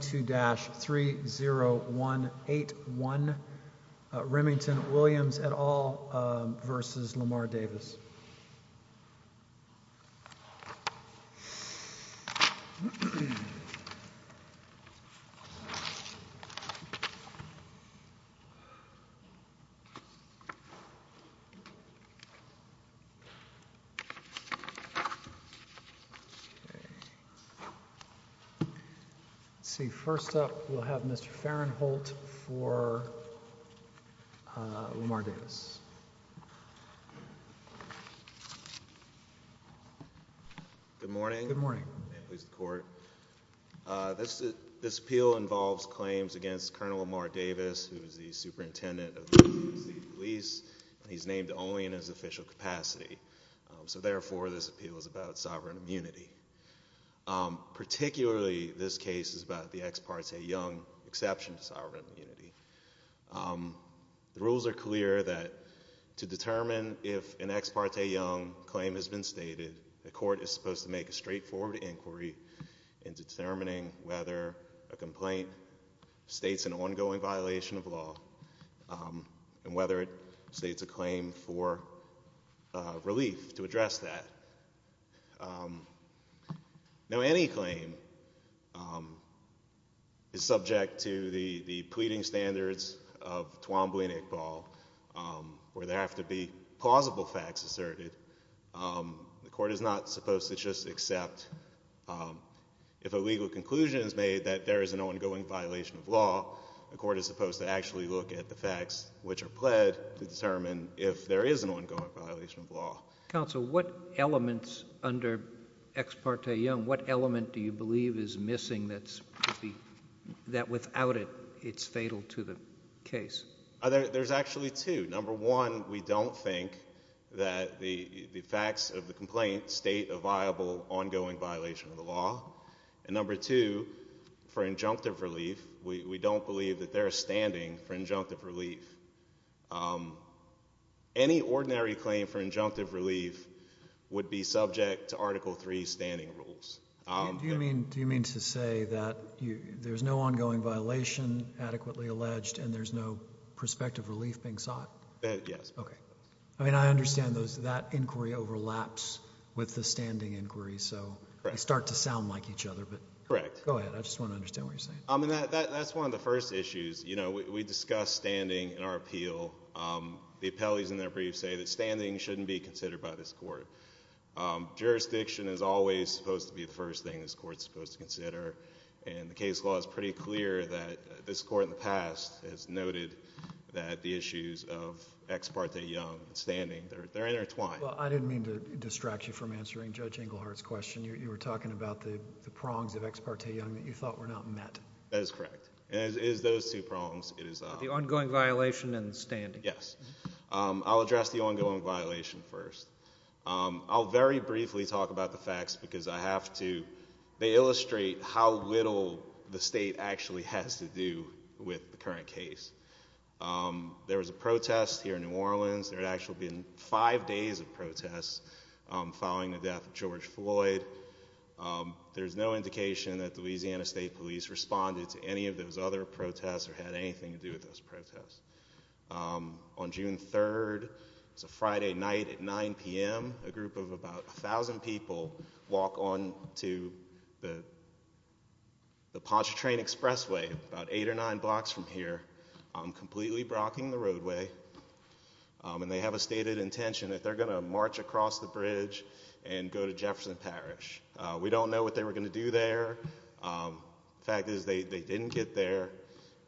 to dash three zero one eight one Remington Williams at all versus Lamar Davis. me. See, first off, we'll have Mr. Fahrenholt for Lamar Davis. Good morning. Good morning. May it please the court. This appeal involves claims against Colonel Lamar Davis, who is the superintendent of the Louisiana police, and he's named only in his official capacity. So therefore, this appeal is about sovereign immunity. Particularly, this case is about the ex parte young exception to sovereign immunity. The rules are clear that to determine if an ex parte young claim has been stated, the court is supposed to make a straightforward inquiry in determining whether a complaint states an ongoing violation of law, and whether it states a claim for relief to address that. Now, any claim is subject to the pleading standards of Twombly and Iqbal, where there have to be plausible facts asserted. The court is not supposed to just accept if a legal conclusion is made that there is an ongoing violation of law. The court is supposed to actually look at the facts which are pled to determine if there is an ongoing violation of law. Counsel, what elements under ex parte young, what element do you believe is missing that without it, it's fatal to the case? There's actually two. Number one, we don't think that the facts of the complaint state a viable ongoing violation of the law. And number two, for injunctive relief, we don't believe that they're standing for injunctive relief. Any ordinary claim for injunctive relief would be subject to Article III standing rules. Do you mean to say that there's no ongoing violation adequately alleged, and there's no prospective relief being sought? Yes. Okay. I mean, I understand that inquiry overlaps with the standing inquiry, so they start to sound like each other, but go ahead, I just wanna understand what you're saying. I mean, that's one of the first issues. We discuss standing in our appeal. The appellees in their briefs say that standing shouldn't be considered by this court. Jurisdiction is always supposed to be the first thing this court's supposed to consider, and the case law is pretty clear that this court in the past has noted that the issues of ex parte young and standing, they're intertwined. Well, I didn't mean to distract you from answering Judge Englehart's question. You were talking about the prongs of ex parte young that you thought were not met. That is correct. It is those two prongs. The ongoing violation and standing. Yes. I'll address the ongoing violation first. I'll very briefly talk about the facts because I have to. They illustrate how little the state actually has to do with the current case. There was a protest here in New Orleans. There had actually been five days of protests following the death of George Floyd. There's no indication that the Louisiana State Police responded to any of those other protests or had anything to do with those protests. On June 3rd, it's a Friday night at 9 p.m., a group of about 1,000 people walk on to the Pontchartrain Expressway about eight or nine blocks from here, completely blocking the roadway, and they have a stated intention that they're gonna march across the bridge and go to Jefferson Parish. We don't know what they were gonna do there. The fact is they didn't get there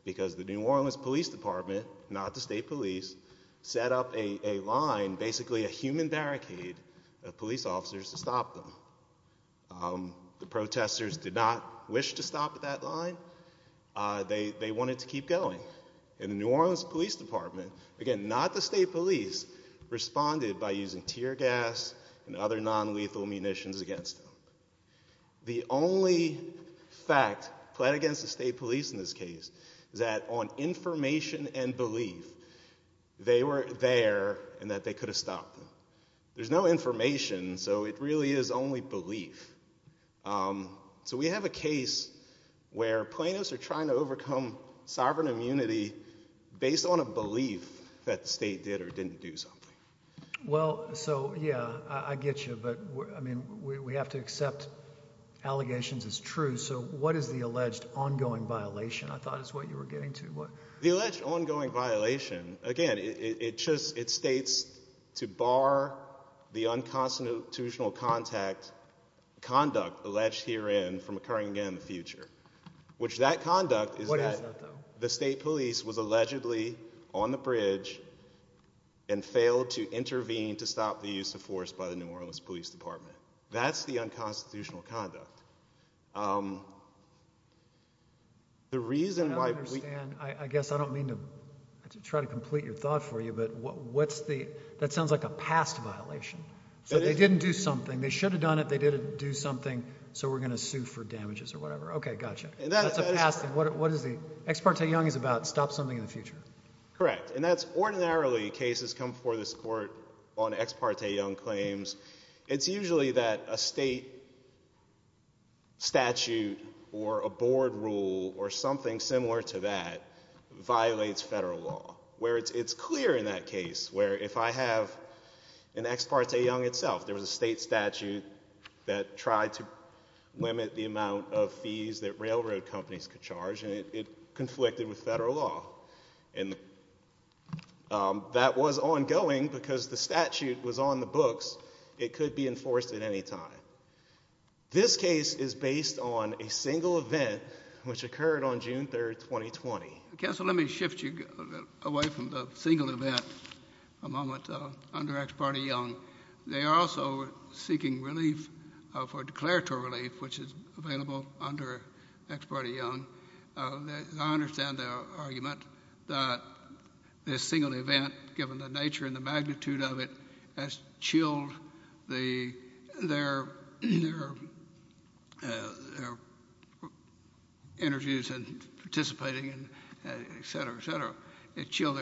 because the New Orleans Police Department, not the state police, set up a line, basically a human barricade of police officers to stop them. The protesters did not wish to stop at that line. They wanted to keep going. And the New Orleans Police Department, again, not the state police, responded by using tear gas and other non-lethal munitions against them. The only fact played against the state police in this case is that on information and belief, they were there and that they could've stopped them. There's no information, so it really is only belief. So we have a case where plaintiffs are trying to overcome sovereign immunity based on a belief that the state did or didn't do something. Well, so yeah, I get you, but I mean, we have to accept allegations as true. So what is the alleged ongoing violation, I thought is what you were getting to? The alleged ongoing violation, again, it states to bar the unconstitutional conduct alleged herein from occurring again in the future, which that conduct is that the state police was allegedly on the bridge and failed to intervene to stop the use of force by the New Orleans Police Department. That's the unconstitutional conduct. The reason why we- I don't understand, I guess I don't mean to try to complete your thought for you, but what's the, that sounds like a past violation. So they didn't do something, they should've done it, they didn't do something, so we're gonna sue for damages or whatever. Okay, gotcha. That's a past, what is the, Ex parte Young is about, stop something in the future. Correct, and that's ordinarily cases come before this court on Ex parte Young claims. It's usually that a state statute or a board rule or something similar to that violates federal law, where it's clear in that case, where if I have an Ex parte Young itself, there was a state statute that tried to limit the amount of fees that railroad companies could charge, and it conflicted with federal law. And that was ongoing because the statute was on the books. It could be enforced at any time. This case is based on a single event, which occurred on June 3rd, 2020. Counsel, let me shift you away from the single event a moment, under Ex parte Young. They are also seeking relief for declaratory relief, which is available under Ex parte Young. I understand the argument that this single event, given the nature and the magnitude of it, has chilled their, their interviews and participating, and et cetera, et cetera. It chilled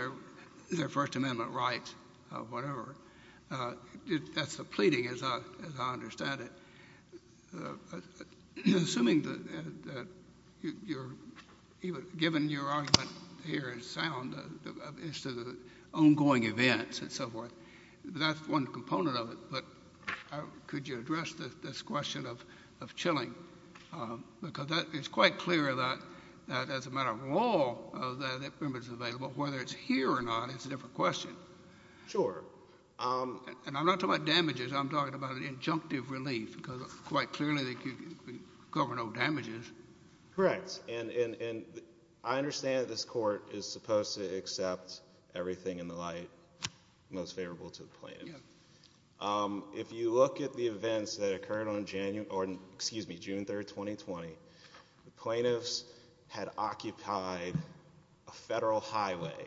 their First Amendment rights or whatever. That's a pleading, as I understand it. Assuming that you're, given your argument here is sound, as to the ongoing events and so forth, that's one component of it, but could you address this question of chilling? Because it's quite clear that, as a matter of law, that it's available. Whether it's here or not is a different question. Sure. And I'm not talking about damages. I'm talking about an injunctive relief, because quite clearly they cover no damages. Correct, and I understand that this court is supposed to accept everything in the light most favorable to the plaintiff. If you look at the events that occurred on January, or excuse me, June 3rd, 2020, the plaintiffs had occupied a federal highway.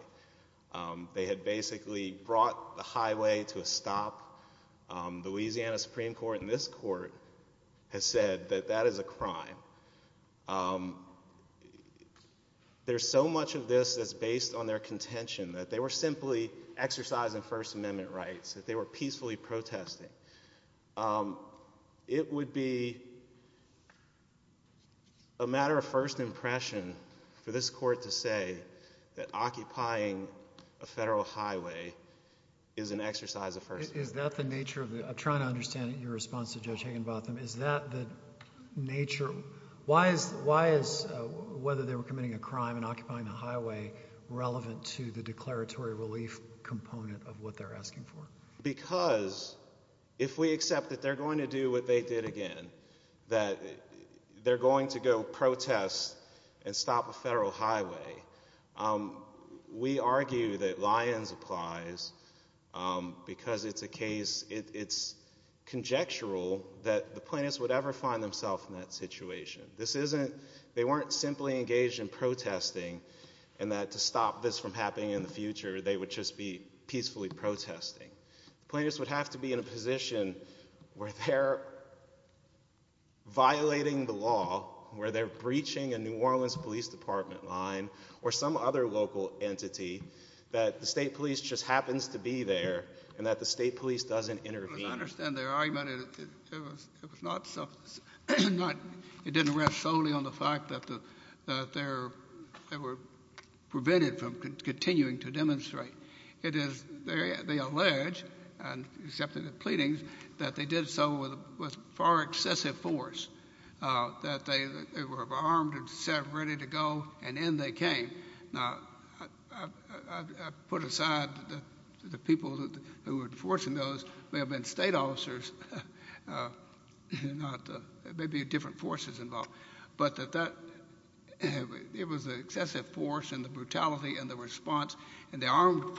They had basically brought the highway to a stop. The Louisiana Supreme Court in this court has said that that is a crime. There's so much of this that's based on their contention, that they were simply exercising First Amendment rights, that they were peacefully protesting. It would be a matter of first impression for this court to say that occupying a federal highway is an exercise of First Amendment rights. Is that the nature of the, I'm trying to understand your response to Judge Higginbotham, is that the nature, why is whether they were committing a crime and occupying the highway relevant to the declaratory relief component of what they're asking for? Because if we accept that they're going to do what they did again, that they're going to go protest and stop a federal highway, we argue that Lyons applies because it's a case, it's conjectural that the plaintiffs would ever find themselves in that situation. This isn't, they weren't simply engaged in protesting and that to stop this from happening in the future, they would just be peacefully protesting. Plaintiffs would have to be in a position where they're violating the law, where they're breaching a New Orleans Police Department line or some other local entity that the state police just happens to be there and that the state police doesn't intervene. I understand their argument, it was not, it didn't rest solely on the fact that they're, they were prevented from continuing to demonstrate. It is, they allege and accepted the pleadings that they did so with far excessive force, that they were armed and set ready to go and in they came. Now, I put aside that the people who were enforcing those may have been state officers, not, there may be different forces involved, but that it was excessive force and the brutality and the response and the armed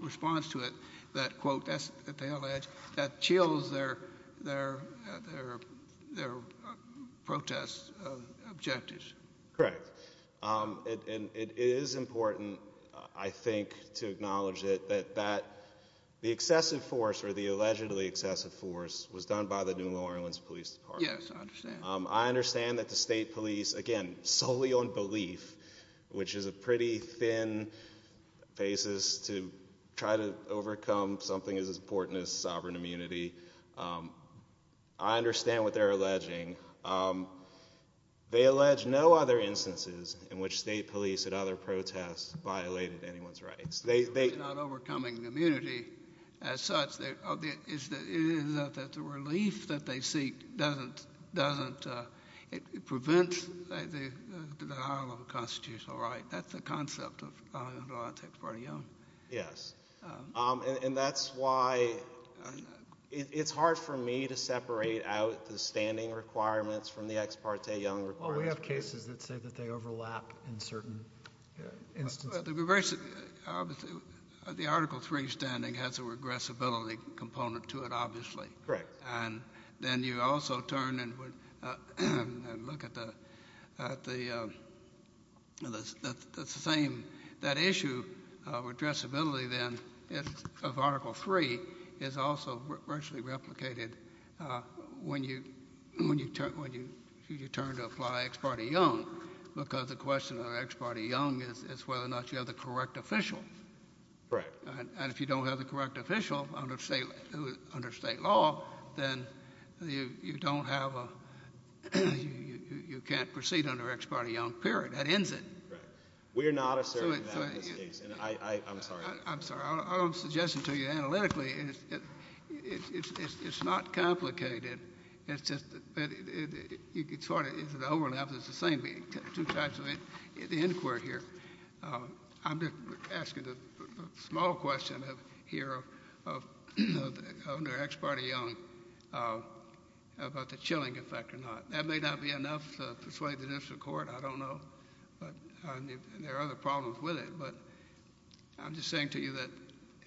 response to it that quote, that's what they allege, that chills their protest objectives. Correct, and it is important, I think to acknowledge it, that the excessive force or the allegedly excessive force was done by the New Orleans Police Department. Yes, I understand. I understand that the state police, again, solely on belief, which is a pretty thin basis to try to overcome something as important as sovereign immunity. I understand what they're alleging. They allege no other instances in which state police at other protests violated anyone's rights. They, they. Not overcoming immunity as such, it is that the relief that they seek doesn't, doesn't prevent the high level constitutional right. That's the concept of, I don't know if that's part of you. Yes, and that's why it's hard for me to separate out the standing requirements from the ex parte young requirements. Well, we have cases that say that they overlap in certain instances. The, the article three standing has a regressibility component to it, obviously. Correct. And then you also turn and look at the, at the, the same, that issue of regressibility, then, of article three is also virtually replicated when you, when you turn, when you turn to apply ex parte young, because the question of ex parte young is whether or not you have the correct official. Correct. And if you don't have the correct official under state, under state law, then you don't have a, you can't proceed under ex parte young period. That ends it. Right. We're not asserting that in this case. And I, I, I'm sorry. I'm sorry. I'm suggesting to you analytically, it's, it's, it's, it's, it's not complicated. It's just that it, it, it, it, you can sort of, it's an overlap. There's the same two types of inquiry here. I'm just asking a small question of, here of, of, under ex parte young, about the chilling effect or not. That may not be enough to persuade the district court. I don't know. But there are other problems with it. But I'm just saying to you that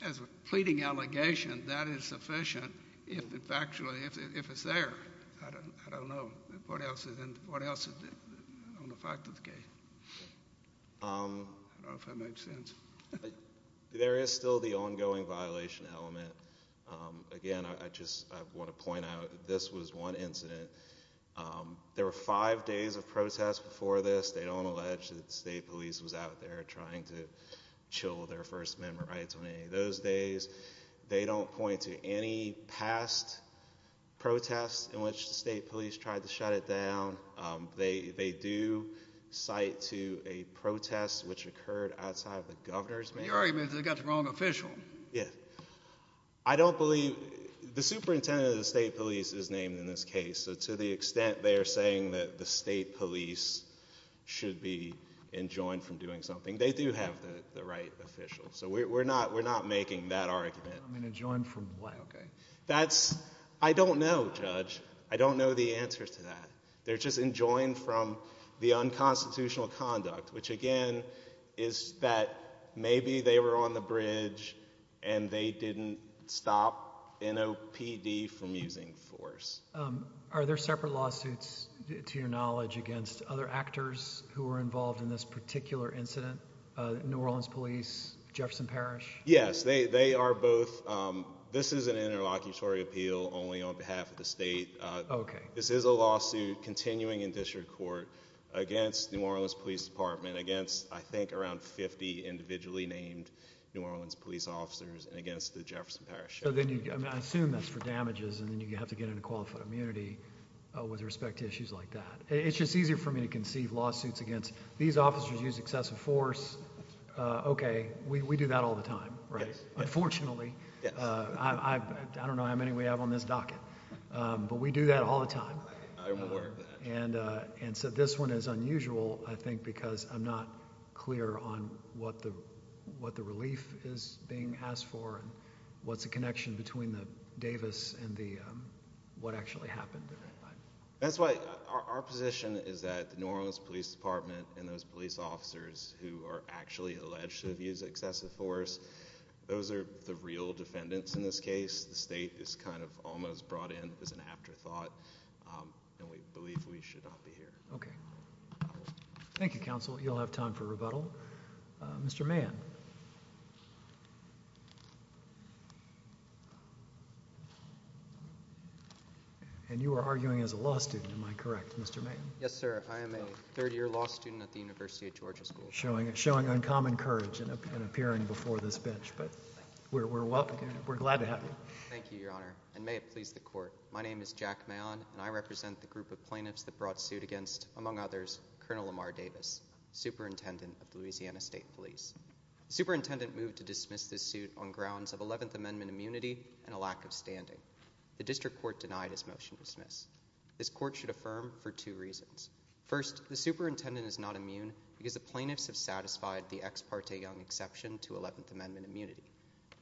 as a pleading allegation, that is sufficient. If it's actually, if it's there. I don't, I don't know what else is in, what else is on the fact of the case. I don't know if that makes sense. There is still the ongoing violation element. Again, I just, I want to point out, this was one incident. There were five days of protests before this. They don't allege that the state police was out there trying to chill their first member rights on any of those days. They don't point to any past protests in which the state police tried to shut it down. They, they do cite to a protest which occurred outside of the governor's mansion. Your argument is they got the wrong official. Yeah. I don't believe, the superintendent of the state police is named in this case. So to the extent they're saying that the state police should be enjoined from doing something, they do have the right official. So we're not, we're not making that argument. I mean, enjoined from what, okay. That's, I don't know, Judge. I don't know the answer to that. They're just enjoined from the unconstitutional conduct, which again, is that maybe they were on the bridge and they didn't stop NOPD from using force. Are there separate lawsuits, to your knowledge, against other actors who were involved in this particular incident? New Orleans police, Jefferson Parish. Yes, they are both. This is an interlocutory appeal only on behalf of the state. Okay. This is a lawsuit continuing in district court against New Orleans police department, against I think around 50 individually named New Orleans police officers and against the Jefferson Parish. So then you, I mean, I assume that's for damages and then you have to get into qualified immunity with respect to issues like that. It's just easier for me to conceive lawsuits against these officers use excessive force. Okay, we do that all the time, right? Unfortunately, I don't know how many we have on this docket, but we do that all the time. I'm aware of that. And so this one is unusual, I think, because I'm not clear on what the relief is being asked for and what's the connection between the Davis and the what actually happened. That's why our position is that New Orleans police department and those police officers who are actually alleged to have used excessive force, those are the real defendants in this case. The state is kind of almost brought in as an afterthought and we believe we should not be here. Okay. Thank you, counsel. You'll have time for rebuttal. Mr. Mann. And you are arguing as a law student, am I correct, Mr. Mann? Yes, sir. I am a third year law student at the University of Georgia School of Law. Showing uncommon courage in appearing before this bench, but we're glad to have you. Thank you, your honor. And may it please the court. My name is Jack Mann and I represent the group of plaintiffs that brought suit against, among others, Colonel Lamar Davis, superintendent of the Louisiana State Police. The superintendent moved to dismiss this suit on grounds of 11th amendment immunity and a lack of standing. The district court denied his motion to dismiss. This court should affirm for two reasons. First, the superintendent is not immune because the plaintiffs have satisfied the ex parte young exception to 11th amendment immunity.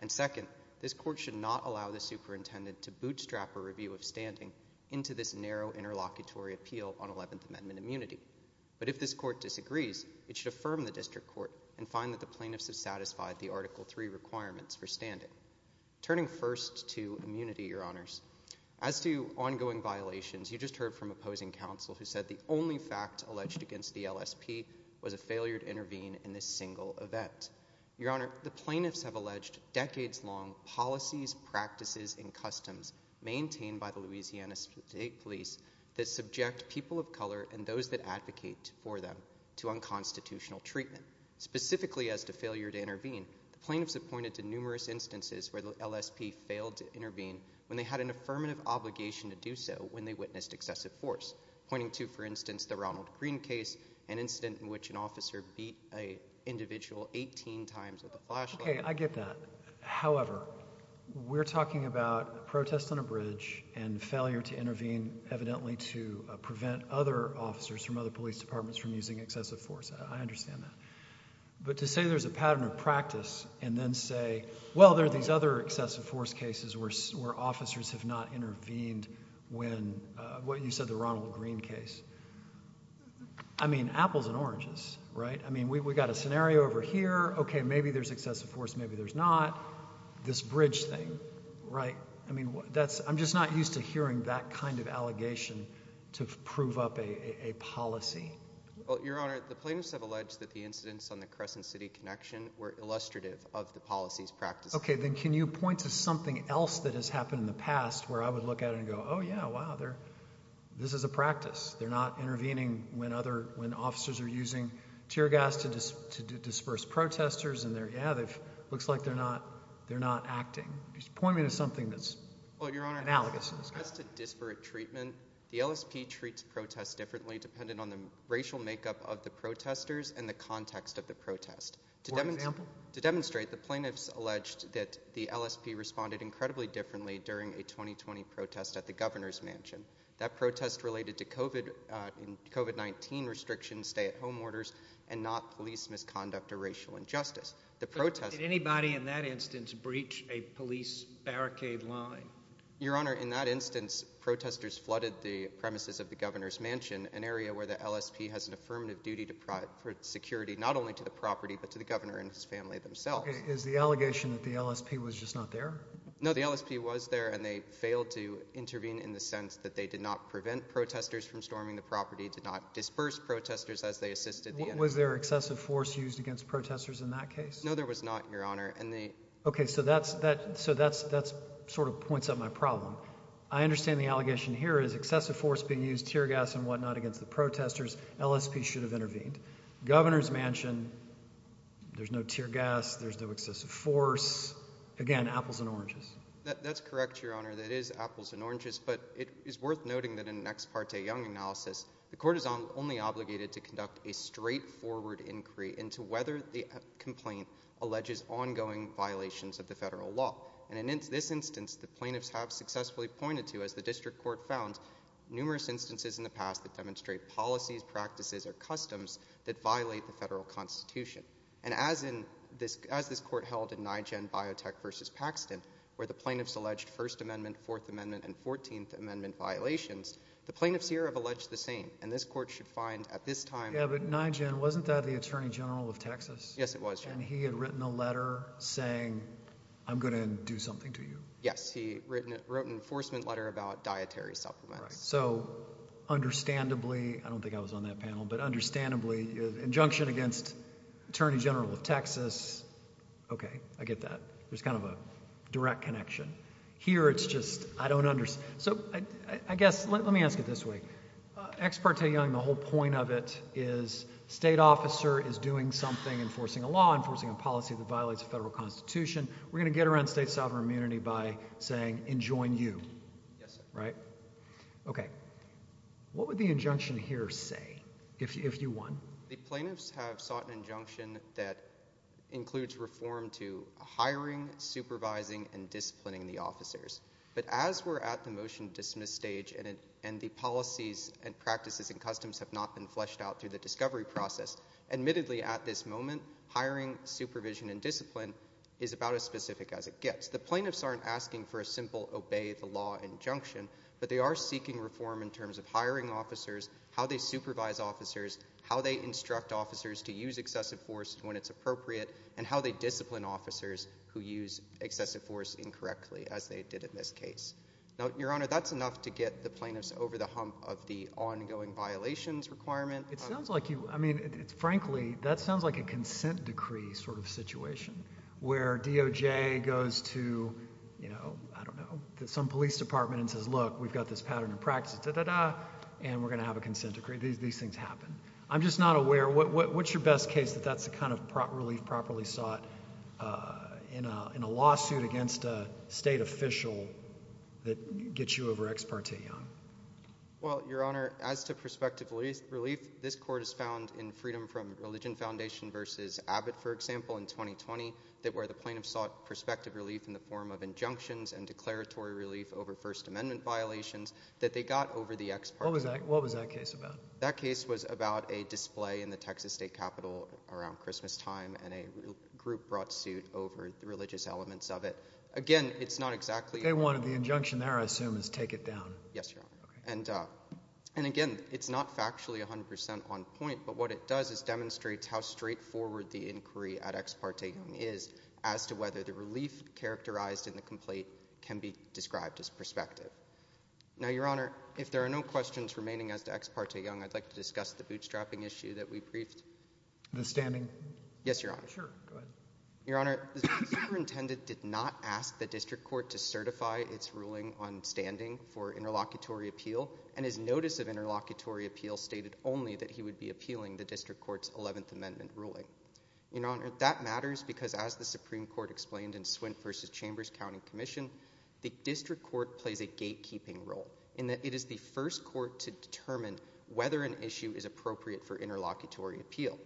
And second, this court should not allow the superintendent to bootstrap a review of standing into this narrow interlocutory appeal on 11th amendment immunity. But if this court disagrees, it should affirm the district court and find that the plaintiffs have satisfied the article three requirements for standing. Turning first to immunity, your honors. As to ongoing violations, you just heard from opposing counsel who said the only fact alleged against the LSP was a failure to intervene in this single event. Your honor, the plaintiffs have alleged decades long policies, practices, and customs maintained by the Louisiana State Police that subject people of color and those that advocate for them to unconstitutional treatment. Specifically as to failure to intervene, the plaintiffs have pointed to numerous instances where the LSP failed to intervene when they had an affirmative obligation to do so when they witnessed excessive force. Pointing to, for instance, the Ronald Green case, an incident in which an officer beat a individual 18 times with a flashlight. Okay, I get that. However, we're talking about protests on a bridge and failure to intervene evidently to prevent other officers from other police departments from using excessive force. I understand that. But to say there's a pattern of practice and then say, well, there are these other officers have not intervened when, well, you said the Ronald Green case. I mean, apples and oranges, right? I mean, we got a scenario over here. Okay, maybe there's excessive force, maybe there's not. This bridge thing, right? I mean, I'm just not used to hearing that kind of allegation to prove up a policy. Well, your honor, the plaintiffs have alleged that the incidents on the Crescent City connection were illustrative of the policies, practices. Okay, then can you point to something else that has happened in the past where I would look at it and go, oh yeah, wow, this is a practice. They're not intervening when officers are using tear gas to disperse protesters and they're, yeah, looks like they're not acting. Just point me to something that's analogous. Well, your honor, as to disparate treatment, the LSP treats protests differently depending on the racial makeup of the protesters and the context of the protest. For example? To demonstrate, the plaintiffs alleged that the LSP responded incredibly differently during a 2020 protest at the governor's mansion. That protest related to COVID-19 restrictions, stay at home orders, and not police misconduct or racial injustice. The protest- Did anybody in that instance breach a police barricade line? Your honor, in that instance, protesters flooded the premises of the governor's mansion, an area where the LSP has an affirmative duty to provide security, not only to the property, but to the governor and his family themselves. Is the allegation that the LSP was just not there? No, the LSP was there and they failed to intervene in the sense that they did not prevent protesters from storming the property, did not disperse protesters as they assisted the- Was there excessive force used against protesters in that case? No, there was not, your honor, and they- Okay, so that sort of points out my problem. I understand the allegation here is excessive force being used, tear gas and whatnot against the protesters, LSP should have intervened. Governor's mansion, there's no tear gas, there's no excessive force, again, apples and oranges. That's correct, your honor, that is apples and oranges, but it is worth noting that in an ex parte Young analysis, the court is only obligated to conduct a straightforward inquiry into whether the complaint alleges ongoing violations of the federal law. And in this instance, the plaintiffs have successfully pointed to, as the district court found, numerous instances in the past that demonstrate policies, practices, or customs that violate the federal constitution. And as this court held in Nyugen Biotech versus Paxton, where the plaintiffs alleged First Amendment, Fourth Amendment, and 14th Amendment violations, the plaintiffs here have alleged the same, and this court should find at this time- Yeah, but Nyugen, wasn't that the attorney general of Texas? Yes, it was, your honor. And he had written a letter saying, I'm gonna do something to you. Yes, he wrote an enforcement letter about dietary supplements. So, understandably, I don't think I was on that panel, but understandably, injunction against attorney general of Texas. Okay, I get that. There's kind of a direct connection. Here, it's just, I don't understand. So, I guess, let me ask it this way. Ex parte Young, the whole point of it is state officer is doing something, enforcing a law, enforcing a policy that violates the federal constitution. We're gonna get around state sovereign immunity by saying, enjoin you. Yes, sir. Right? Okay. What would the injunction here say? If you want. The plaintiffs have sought an injunction that includes reform to hiring, supervising, and disciplining the officers. But as we're at the motion dismiss stage, and the policies and practices and customs have not been fleshed out through the discovery process, admittedly, at this moment, hiring, supervision, and discipline is about as specific as it gets. The plaintiffs aren't asking for a simple, obey the law injunction, but they are seeking reform in terms of hiring officers, how they supervise officers, how they instruct officers to use excessive force when it's appropriate, and how they discipline officers who use excessive force incorrectly, as they did in this case. Now, your honor, that's enough to get the plaintiffs over the hump of the ongoing violations requirement. It sounds like you, I mean, frankly, that sounds like a consent decree sort of situation, where DOJ goes to, you know, I don't know, some police department and says, look, we've got this pattern of practice, and we're gonna have a consent decree. These things happen. I'm just not aware, what's your best case that that's the kind of relief properly sought in a lawsuit against a state official that gets you over ex parte, Jan? Well, your honor, as to prospective relief, this court has found in freedom from Religion Foundation versus Abbott, for example, in 2020, that where the plaintiffs sought prospective relief in the form of injunctions and declaratory relief over First Amendment violations, that they got over the ex parte. What was that case about? That case was about a display in the Texas State Capitol around Christmas time, and a group brought suit over the religious elements of it. Again, it's not exactly- They wanted the injunction there, I assume, is take it down. Yes, your honor. And again, it's not factually 100% on point, but what it does is demonstrates how straightforward the inquiry at ex parte is as to whether the relief characterized in the complaint can be described as prospective. Now, your honor, if there are no questions remaining as to ex parte, Jan, I'd like to discuss the bootstrapping issue that we briefed. The standing? Yes, your honor. Sure, go ahead. Your honor, the superintendent did not ask the district court to certify its ruling on standing for interlocutory appeal, and his notice of interlocutory appeal stated only that he would be appealing the district court's 11th Amendment ruling. Your honor, that matters, because as the Supreme Court explained in Swint versus Chambers County Commission, the district court plays a gatekeeping role in that it is the first court to determine whether an issue is appropriate for interlocutory appeal.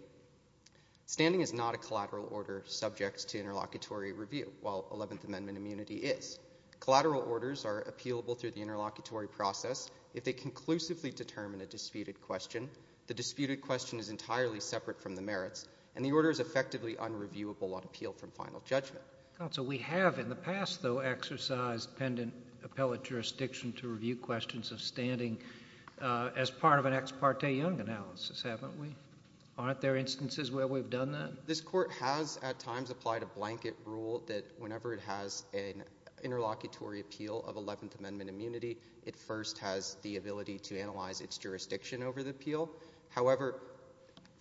Standing is not a collateral order subject to interlocutory review, while 11th Amendment immunity is. Collateral orders are appealable through the interlocutory process if they conclusively determine a disputed question, the disputed question is entirely separate from the merits, and the order is effectively unreviewable on appeal from final judgment. Counsel, we have in the past, though, exercised pendant appellate jurisdiction to review questions of standing as part of an ex parte Young analysis, haven't we? Aren't there instances where we've done that? This court has, at times, applied a blanket rule that whenever it has an interlocutory appeal of 11th Amendment immunity, it first has the ability to analyze its jurisdiction over the appeal. However,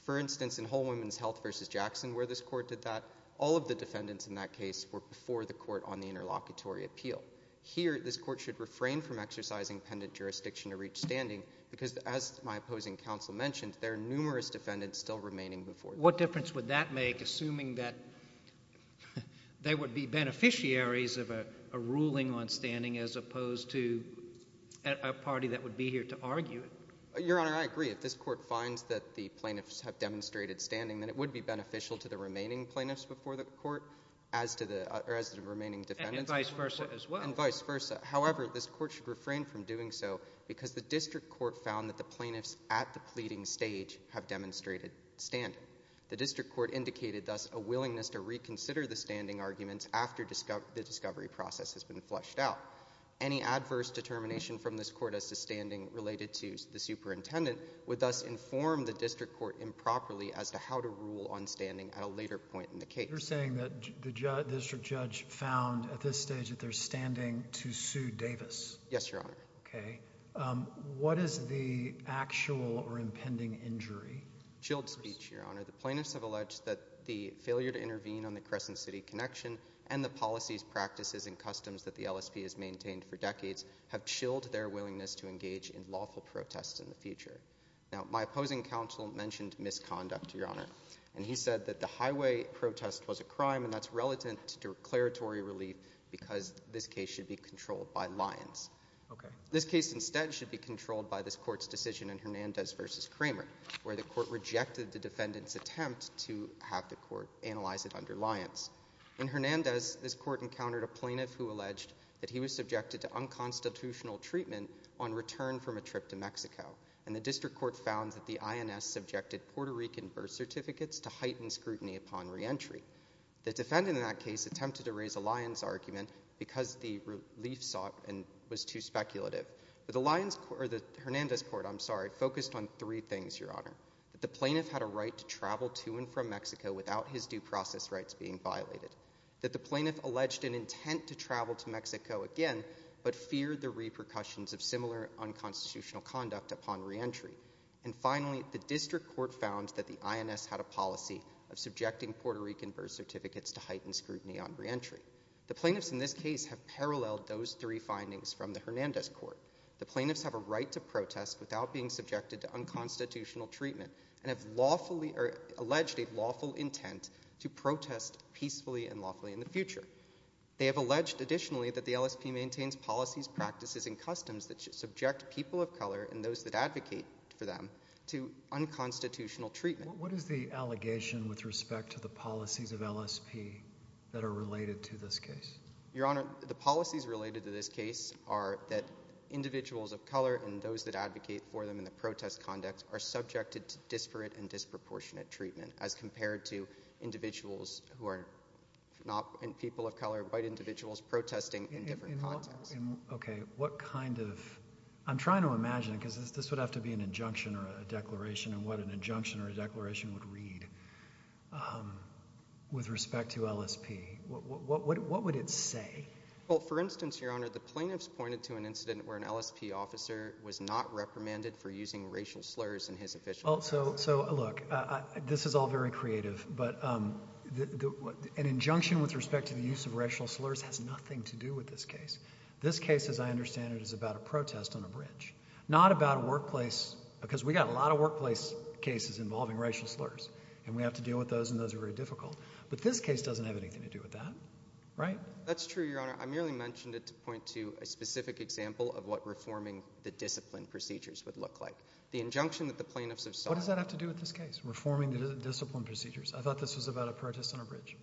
for instance, in Whole Women's Health versus Jackson, where this court did that, all of the defendants in that case were before the court on the interlocutory appeal. Here, this court should refrain from exercising pendant jurisdiction to reach standing because, as my opposing counsel mentioned, there are numerous defendants still remaining before. What difference would that make, assuming that they would be beneficiaries of a ruling on standing as opposed to a party that would be here to argue it? Your Honor, I agree. If this court finds that the plaintiffs have demonstrated standing, then it would be beneficial to the remaining plaintiffs before the court as to the remaining defendants. And vice versa as well. And vice versa. However, this court should refrain from doing so because the district court found that the plaintiffs at the pleading stage have demonstrated standing. The district court indicated, thus, a willingness to reconsider the standing arguments after the discovery process has been fleshed out. Any adverse determination from this court as to standing related to the superintendent would, thus, inform the district court improperly as to how to rule on standing at a later point in the case. You're saying that the district judge found, at this stage, that they're standing to sue Davis. Yes, Your Honor. Okay. What is the actual or impending injury? Chilled speech, Your Honor. The plaintiffs have alleged that the failure to intervene on the Crescent City connection and the policies, practices, and customs that the LSP has maintained for decades have chilled their willingness to engage in lawful protests in the future. Now, my opposing counsel mentioned misconduct, Your Honor, and he said that the highway protest was a crime and that's relatant to declaratory relief because this case should be controlled by Lyons. Okay. This case, instead, should be controlled by this court's decision in Hernandez versus Kramer, where the court rejected the defendant's attempt to have the court analyze it under Lyons. In Hernandez, this court encountered a plaintiff who alleged that he was subjected to unconstitutional treatment on return from a trip to Mexico, and the district court found that the INS subjected Puerto Rican birth certificates to heightened scrutiny upon reentry. The defendant in that case attempted to raise a Lyons argument because the relief sought and was too speculative, but the Lyons, or the Hernandez court, I'm sorry, focused on three things, Your Honor, that the plaintiff had a right to travel to and from Mexico without his due process rights being violated, that the plaintiff alleged an intent to travel to Mexico again, but feared the repercussions of similar unconstitutional conduct upon reentry, and finally, the district court found that the INS had a policy of subjecting Puerto Rican birth certificates to heightened scrutiny on reentry. The plaintiffs in this case have paralleled those three findings from the Hernandez court. The plaintiffs have a right to protest without being subjected to unconstitutional treatment, and have lawfully, or alleged a lawful intent to protest peacefully and lawfully in the future. They have alleged, additionally, that the LSP maintains policies, practices, and customs that should subject people of color and those that advocate for them to unconstitutional treatment. What is the allegation with respect to the policies of LSP that are related to this case? Your Honor, the policies related to this case are that individuals of color and those that advocate for them in the protest conduct are subjected to disparate and disproportionate treatment as compared to individuals who are not people of color, white individuals protesting in different contexts. Okay, what kind of, I'm trying to imagine, because this would have to be an injunction or a declaration, and what an injunction or a declaration would read with respect to LSP. What would it say? Well, for instance, Your Honor, the plaintiffs pointed to an incident where an LSP officer was not reprimanded for using racial slurs in his official testimony. So, look, this is all very creative, but an injunction with respect to the use of racial slurs has nothing to do with this case. This case, as I understand it, is about a protest on a bridge, not about a workplace, because we got a lot of workplace cases involving racial slurs, and we have to deal with those, and those are very difficult. But this case doesn't have anything to do with that, right? That's true, Your Honor. I merely mentioned it to point to a specific example of what reforming the discipline procedures would look like. The injunction that the plaintiffs have sought. What does that have to do with this case, reforming the discipline procedures? I thought this was about a protest on a bridge.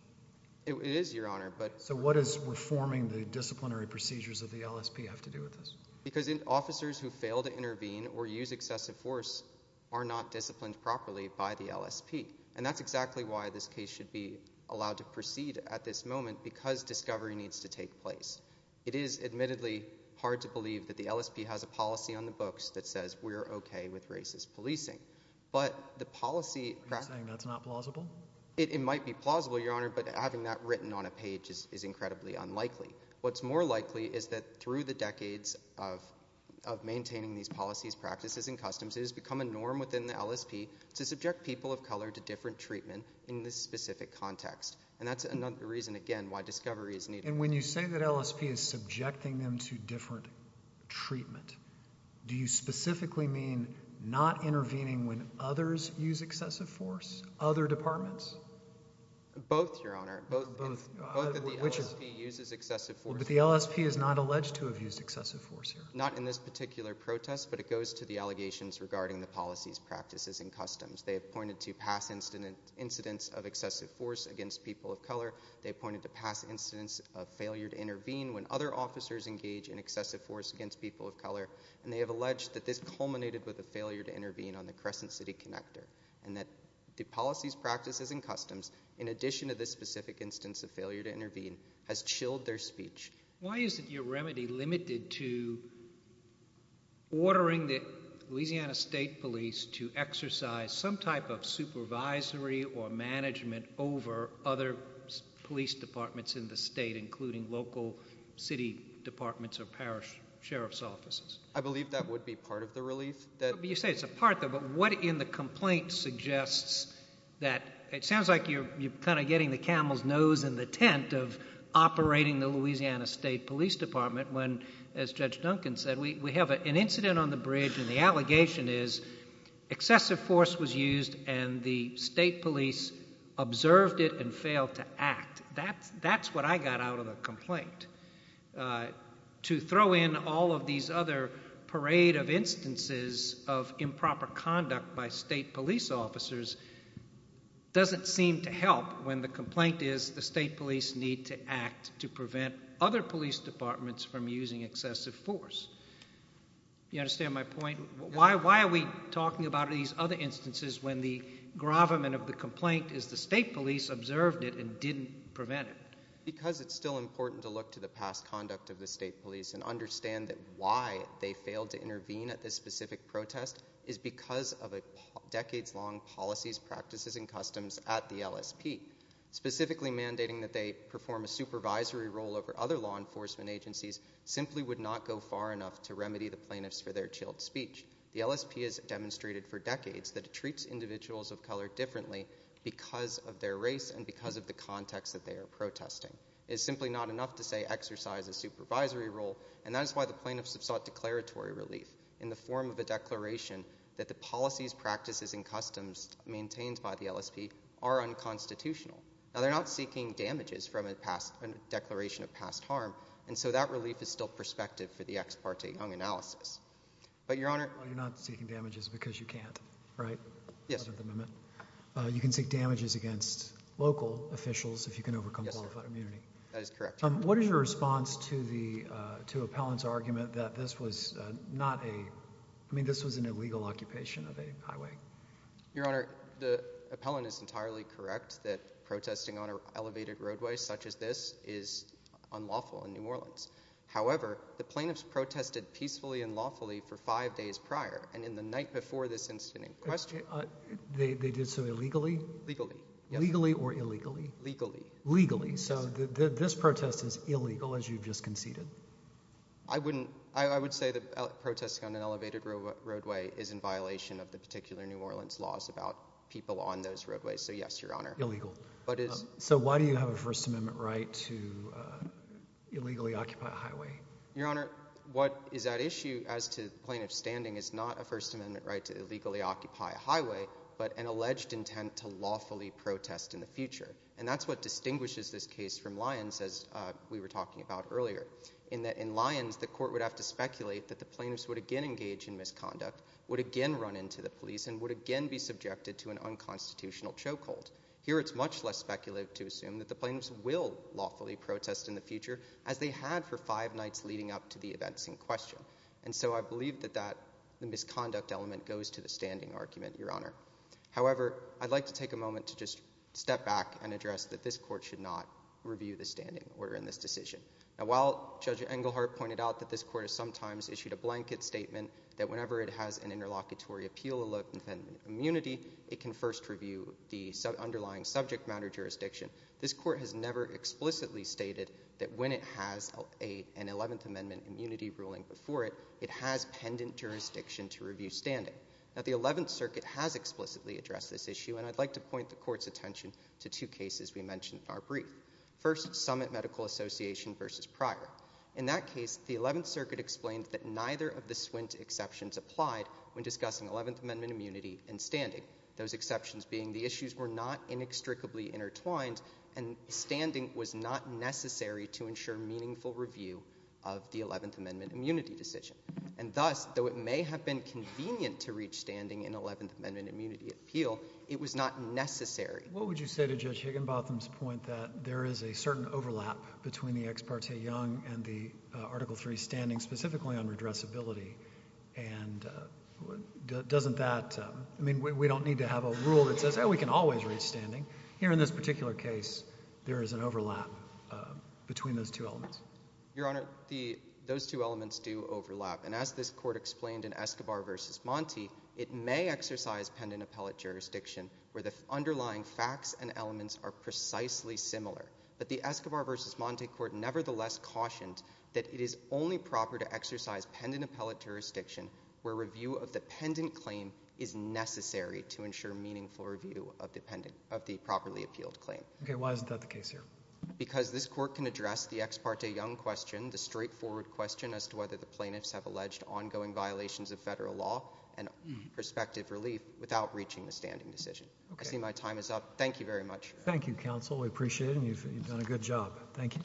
It is, Your Honor, but- So what is reforming the disciplinary procedures of the LSP have to do with this? Because officers who fail to intervene or use excessive force are not disciplined properly by the LSP. And that's exactly why this case should be allowed to proceed at this moment, because discovery needs to take place. It is admittedly hard to believe that the LSP has a policy on the books that says we're okay with racist policing. But the policy- Are you saying that's not plausible? It might be plausible, Your Honor, but having that written on a page is incredibly unlikely. What's more likely is that through the decades of maintaining these policies, practices, and customs, it has become a norm within the LSP to subject people of color to different treatment in this specific context. And that's another reason, again, why discovery is needed. And when you say that LSP is subjecting them to different treatment, do you specifically mean not intervening when others use excessive force, other departments? Both, Your Honor. Both of the LSP uses excessive force. But the LSP is not alleged to have used excessive force. Not in this particular protest, but it goes to the allegations regarding the policies, practices, and customs. They have pointed to past incidents of excessive force against people of color. They pointed to past incidents of failure to intervene when other officers engage in excessive force against people of color. And they have alleged that this culminated with a failure to intervene on the Crescent City Connector. And that the policies, practices, and customs, in addition to this specific instance of failure to intervene, has chilled their speech. Why isn't your remedy limited to ordering the Louisiana State Police to exercise some type of supervisory or management over other police departments in the state, including local city departments or parish sheriff's offices? I believe that would be part of the relief. You say it's a part, but what in the complaint suggests that, it sounds like you're kind of getting the camel's nose in the tent of operating the Louisiana State Police Department when, as Judge Duncan said, we have an incident on the bridge and the allegation is excessive force was used and the state police observed it and failed to act. That's what I got out of the complaint. To throw in all of these other parade of instances of improper conduct by state police officers doesn't seem to help when the complaint is the state police need to act to prevent other police departments from using excessive force. You understand my point? Why are we talking about these other instances when the gravamen of the complaint is the state police observed it and didn't prevent it? Because it's still important to look to the past conduct of the state police and understand that why they failed to intervene at this specific protest is because of a decades long policies, practices and customs at the LSP. Specifically mandating that they perform a supervisory role over other law enforcement agencies simply would not go far enough to remedy the plaintiffs for their chilled speech. The LSP has demonstrated for decades that it treats individuals of color differently because of their race and because of the context that they are protesting. It's simply not enough to say exercise a supervisory role and that is why the plaintiffs have sought declaratory relief in the form of a declaration that the policies, practices and customs maintained by the LSP are unconstitutional. Now they're not seeking damages from a declaration of past harm and so that relief is still perspective for the ex parte young analysis. But your honor. You're not seeking damages because you can't, right? Yes. You can seek damages against local officials if you can overcome qualified immunity. That is correct. What is your response to Appellant's argument that this was not a, I mean this was an illegal occupation of a highway? Your honor, the appellant is entirely correct that protesting on an elevated roadway such as this is unlawful in New Orleans. However, the plaintiffs protested peacefully and lawfully for five days prior and in the night before this incident in question. They did so illegally? Legally. Legally or illegally? Legally. Legally. So this protest is illegal as you've just conceded. I wouldn't, I would say that protesting on an elevated roadway is in violation of the particular New Orleans laws about people on those roadways. So yes, your honor. Illegal. So why do you have a First Amendment right to illegally occupy a highway? Your honor, what is at issue as to plaintiff's standing is not a First Amendment right to illegally occupy a highway but an alleged intent to lawfully protest in the future. And that's what distinguishes this case from Lyons as we were talking about earlier. In Lyons, the court would have to speculate that the plaintiffs would again engage in misconduct, would again run into the police, and would again be subjected to an unconstitutional choke hold. Here it's much less speculative to assume that the plaintiffs will lawfully protest in the future as they had for five nights leading up to the events in question. And so I believe that the misconduct element goes to the standing argument, your honor. However, I'd like to take a moment to just step back and address that this court should not review the standing order in this decision. Now, while Judge Engelhardt pointed out that this court has sometimes issued a blanket statement that whenever it has an interlocutory appeal allotment and immunity, it can first review the underlying subject matter jurisdiction, this court has never explicitly stated that when it has an 11th Amendment immunity ruling before it, it has pendant jurisdiction to review standing. Now, the 11th Circuit has explicitly addressed this issue. And I'd like to point the court's attention to two cases we mentioned in our brief. First, Summit Medical Association versus Pryor. In that case, the 11th Circuit explained that neither of the SWINT exceptions applied when discussing 11th Amendment immunity and standing, those exceptions being the issues were not inextricably intertwined, and standing was not necessary to ensure meaningful review of the 11th Amendment immunity decision. And thus, though it may have been convenient to reach standing in 11th Amendment immunity appeal, it was not necessary. What would you say to Judge Higginbotham's point that there is a certain overlap between the ex parte young and the Article III standing specifically on redressability? And doesn't that, I mean, we don't need to have a rule that says, oh, we can always reach standing. Here in this particular case, there is an overlap between those two elements. Your Honor, those two elements do overlap. And as this court explained in Escobar versus Monte, it may exercise pendant appellate jurisdiction where the underlying facts and elements are precisely similar. But the Escobar versus Monte court nevertheless cautioned that it is only proper to exercise pendant appellate jurisdiction where review of the pendant claim is necessary to ensure meaningful review of the properly appealed claim. OK, why is that the case here? Because this court can address the ex parte young question, the straightforward question as to whether the plaintiffs have alleged ongoing violations of federal law and prospective relief without reaching the standing decision. I see my time is up. Thank you very much. Thank you, counsel. We appreciate it. And you've done a good job. Thank you.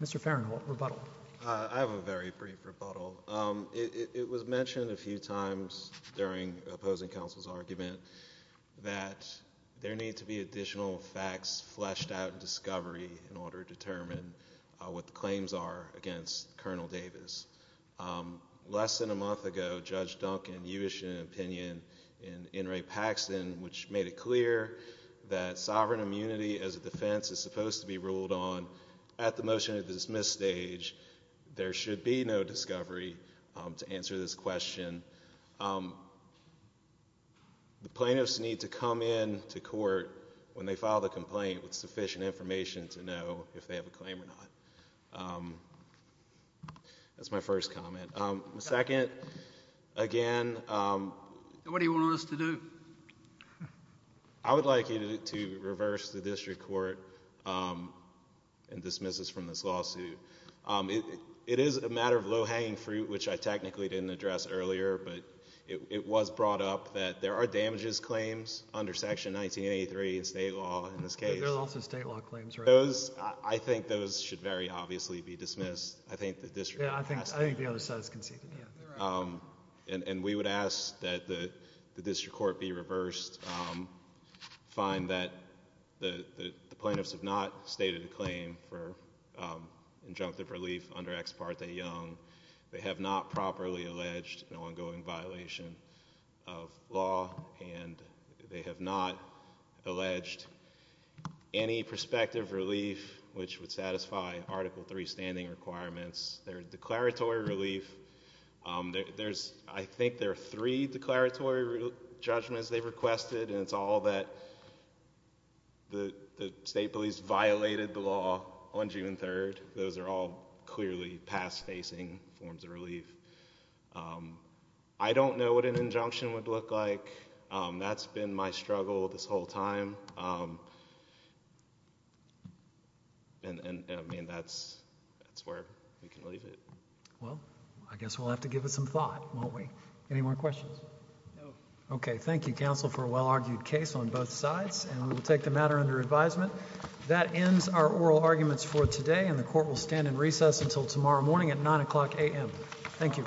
Mr. Farenthold, rebuttal. I have a very brief rebuttal. It was mentioned a few times during opposing counsel's argument that there need to be additional facts fleshed out discovery in order to determine what the claims are against Colonel Davis. Less than a month ago, Judge Duncan, you issued an opinion in Inouye-Paxson, which made it clear that sovereign immunity as a defense is supposed to be ruled on at the motion to dismiss stage. There should be no discovery to answer this question. The plaintiffs need to come in to court when they file the complaint with sufficient information to know if they have a claim or not. That's my first comment. Second, again, What do you want us to do? I would like you to reverse the district court and dismiss us from this lawsuit. It is a matter of low hanging fruit, which I technically didn't address earlier. But it was brought up that there are damages claims under section 1983 in state law in this case. There are also state law claims, right? I think those should very obviously be dismissed. I think the district court passed it. I think the other side has conceded it. And we would ask that the district court be reversed. Find that the plaintiffs have not stated a claim for injunctive relief under Ex Parte Young. They have not properly alleged an ongoing violation of law. And they have not alleged any prospective relief, which would satisfy Article III standing requirements. There is declaratory relief. I think there are three declaratory judgments they've requested. And it's all that the state police violated the law on June 3. Those are all clearly past facing forms of relief. I don't know what an injunction would look like. That's been my struggle this whole time. And I mean, that's where we can leave it. Well, I guess we'll have to give it some thought, won't we? Any more questions? OK, thank you, counsel, for a well-argued case on both sides. And we will take the matter under advisement. That ends our oral arguments for today. And the court will stand in recess until tomorrow morning at 9 o'clock AM. Thank you.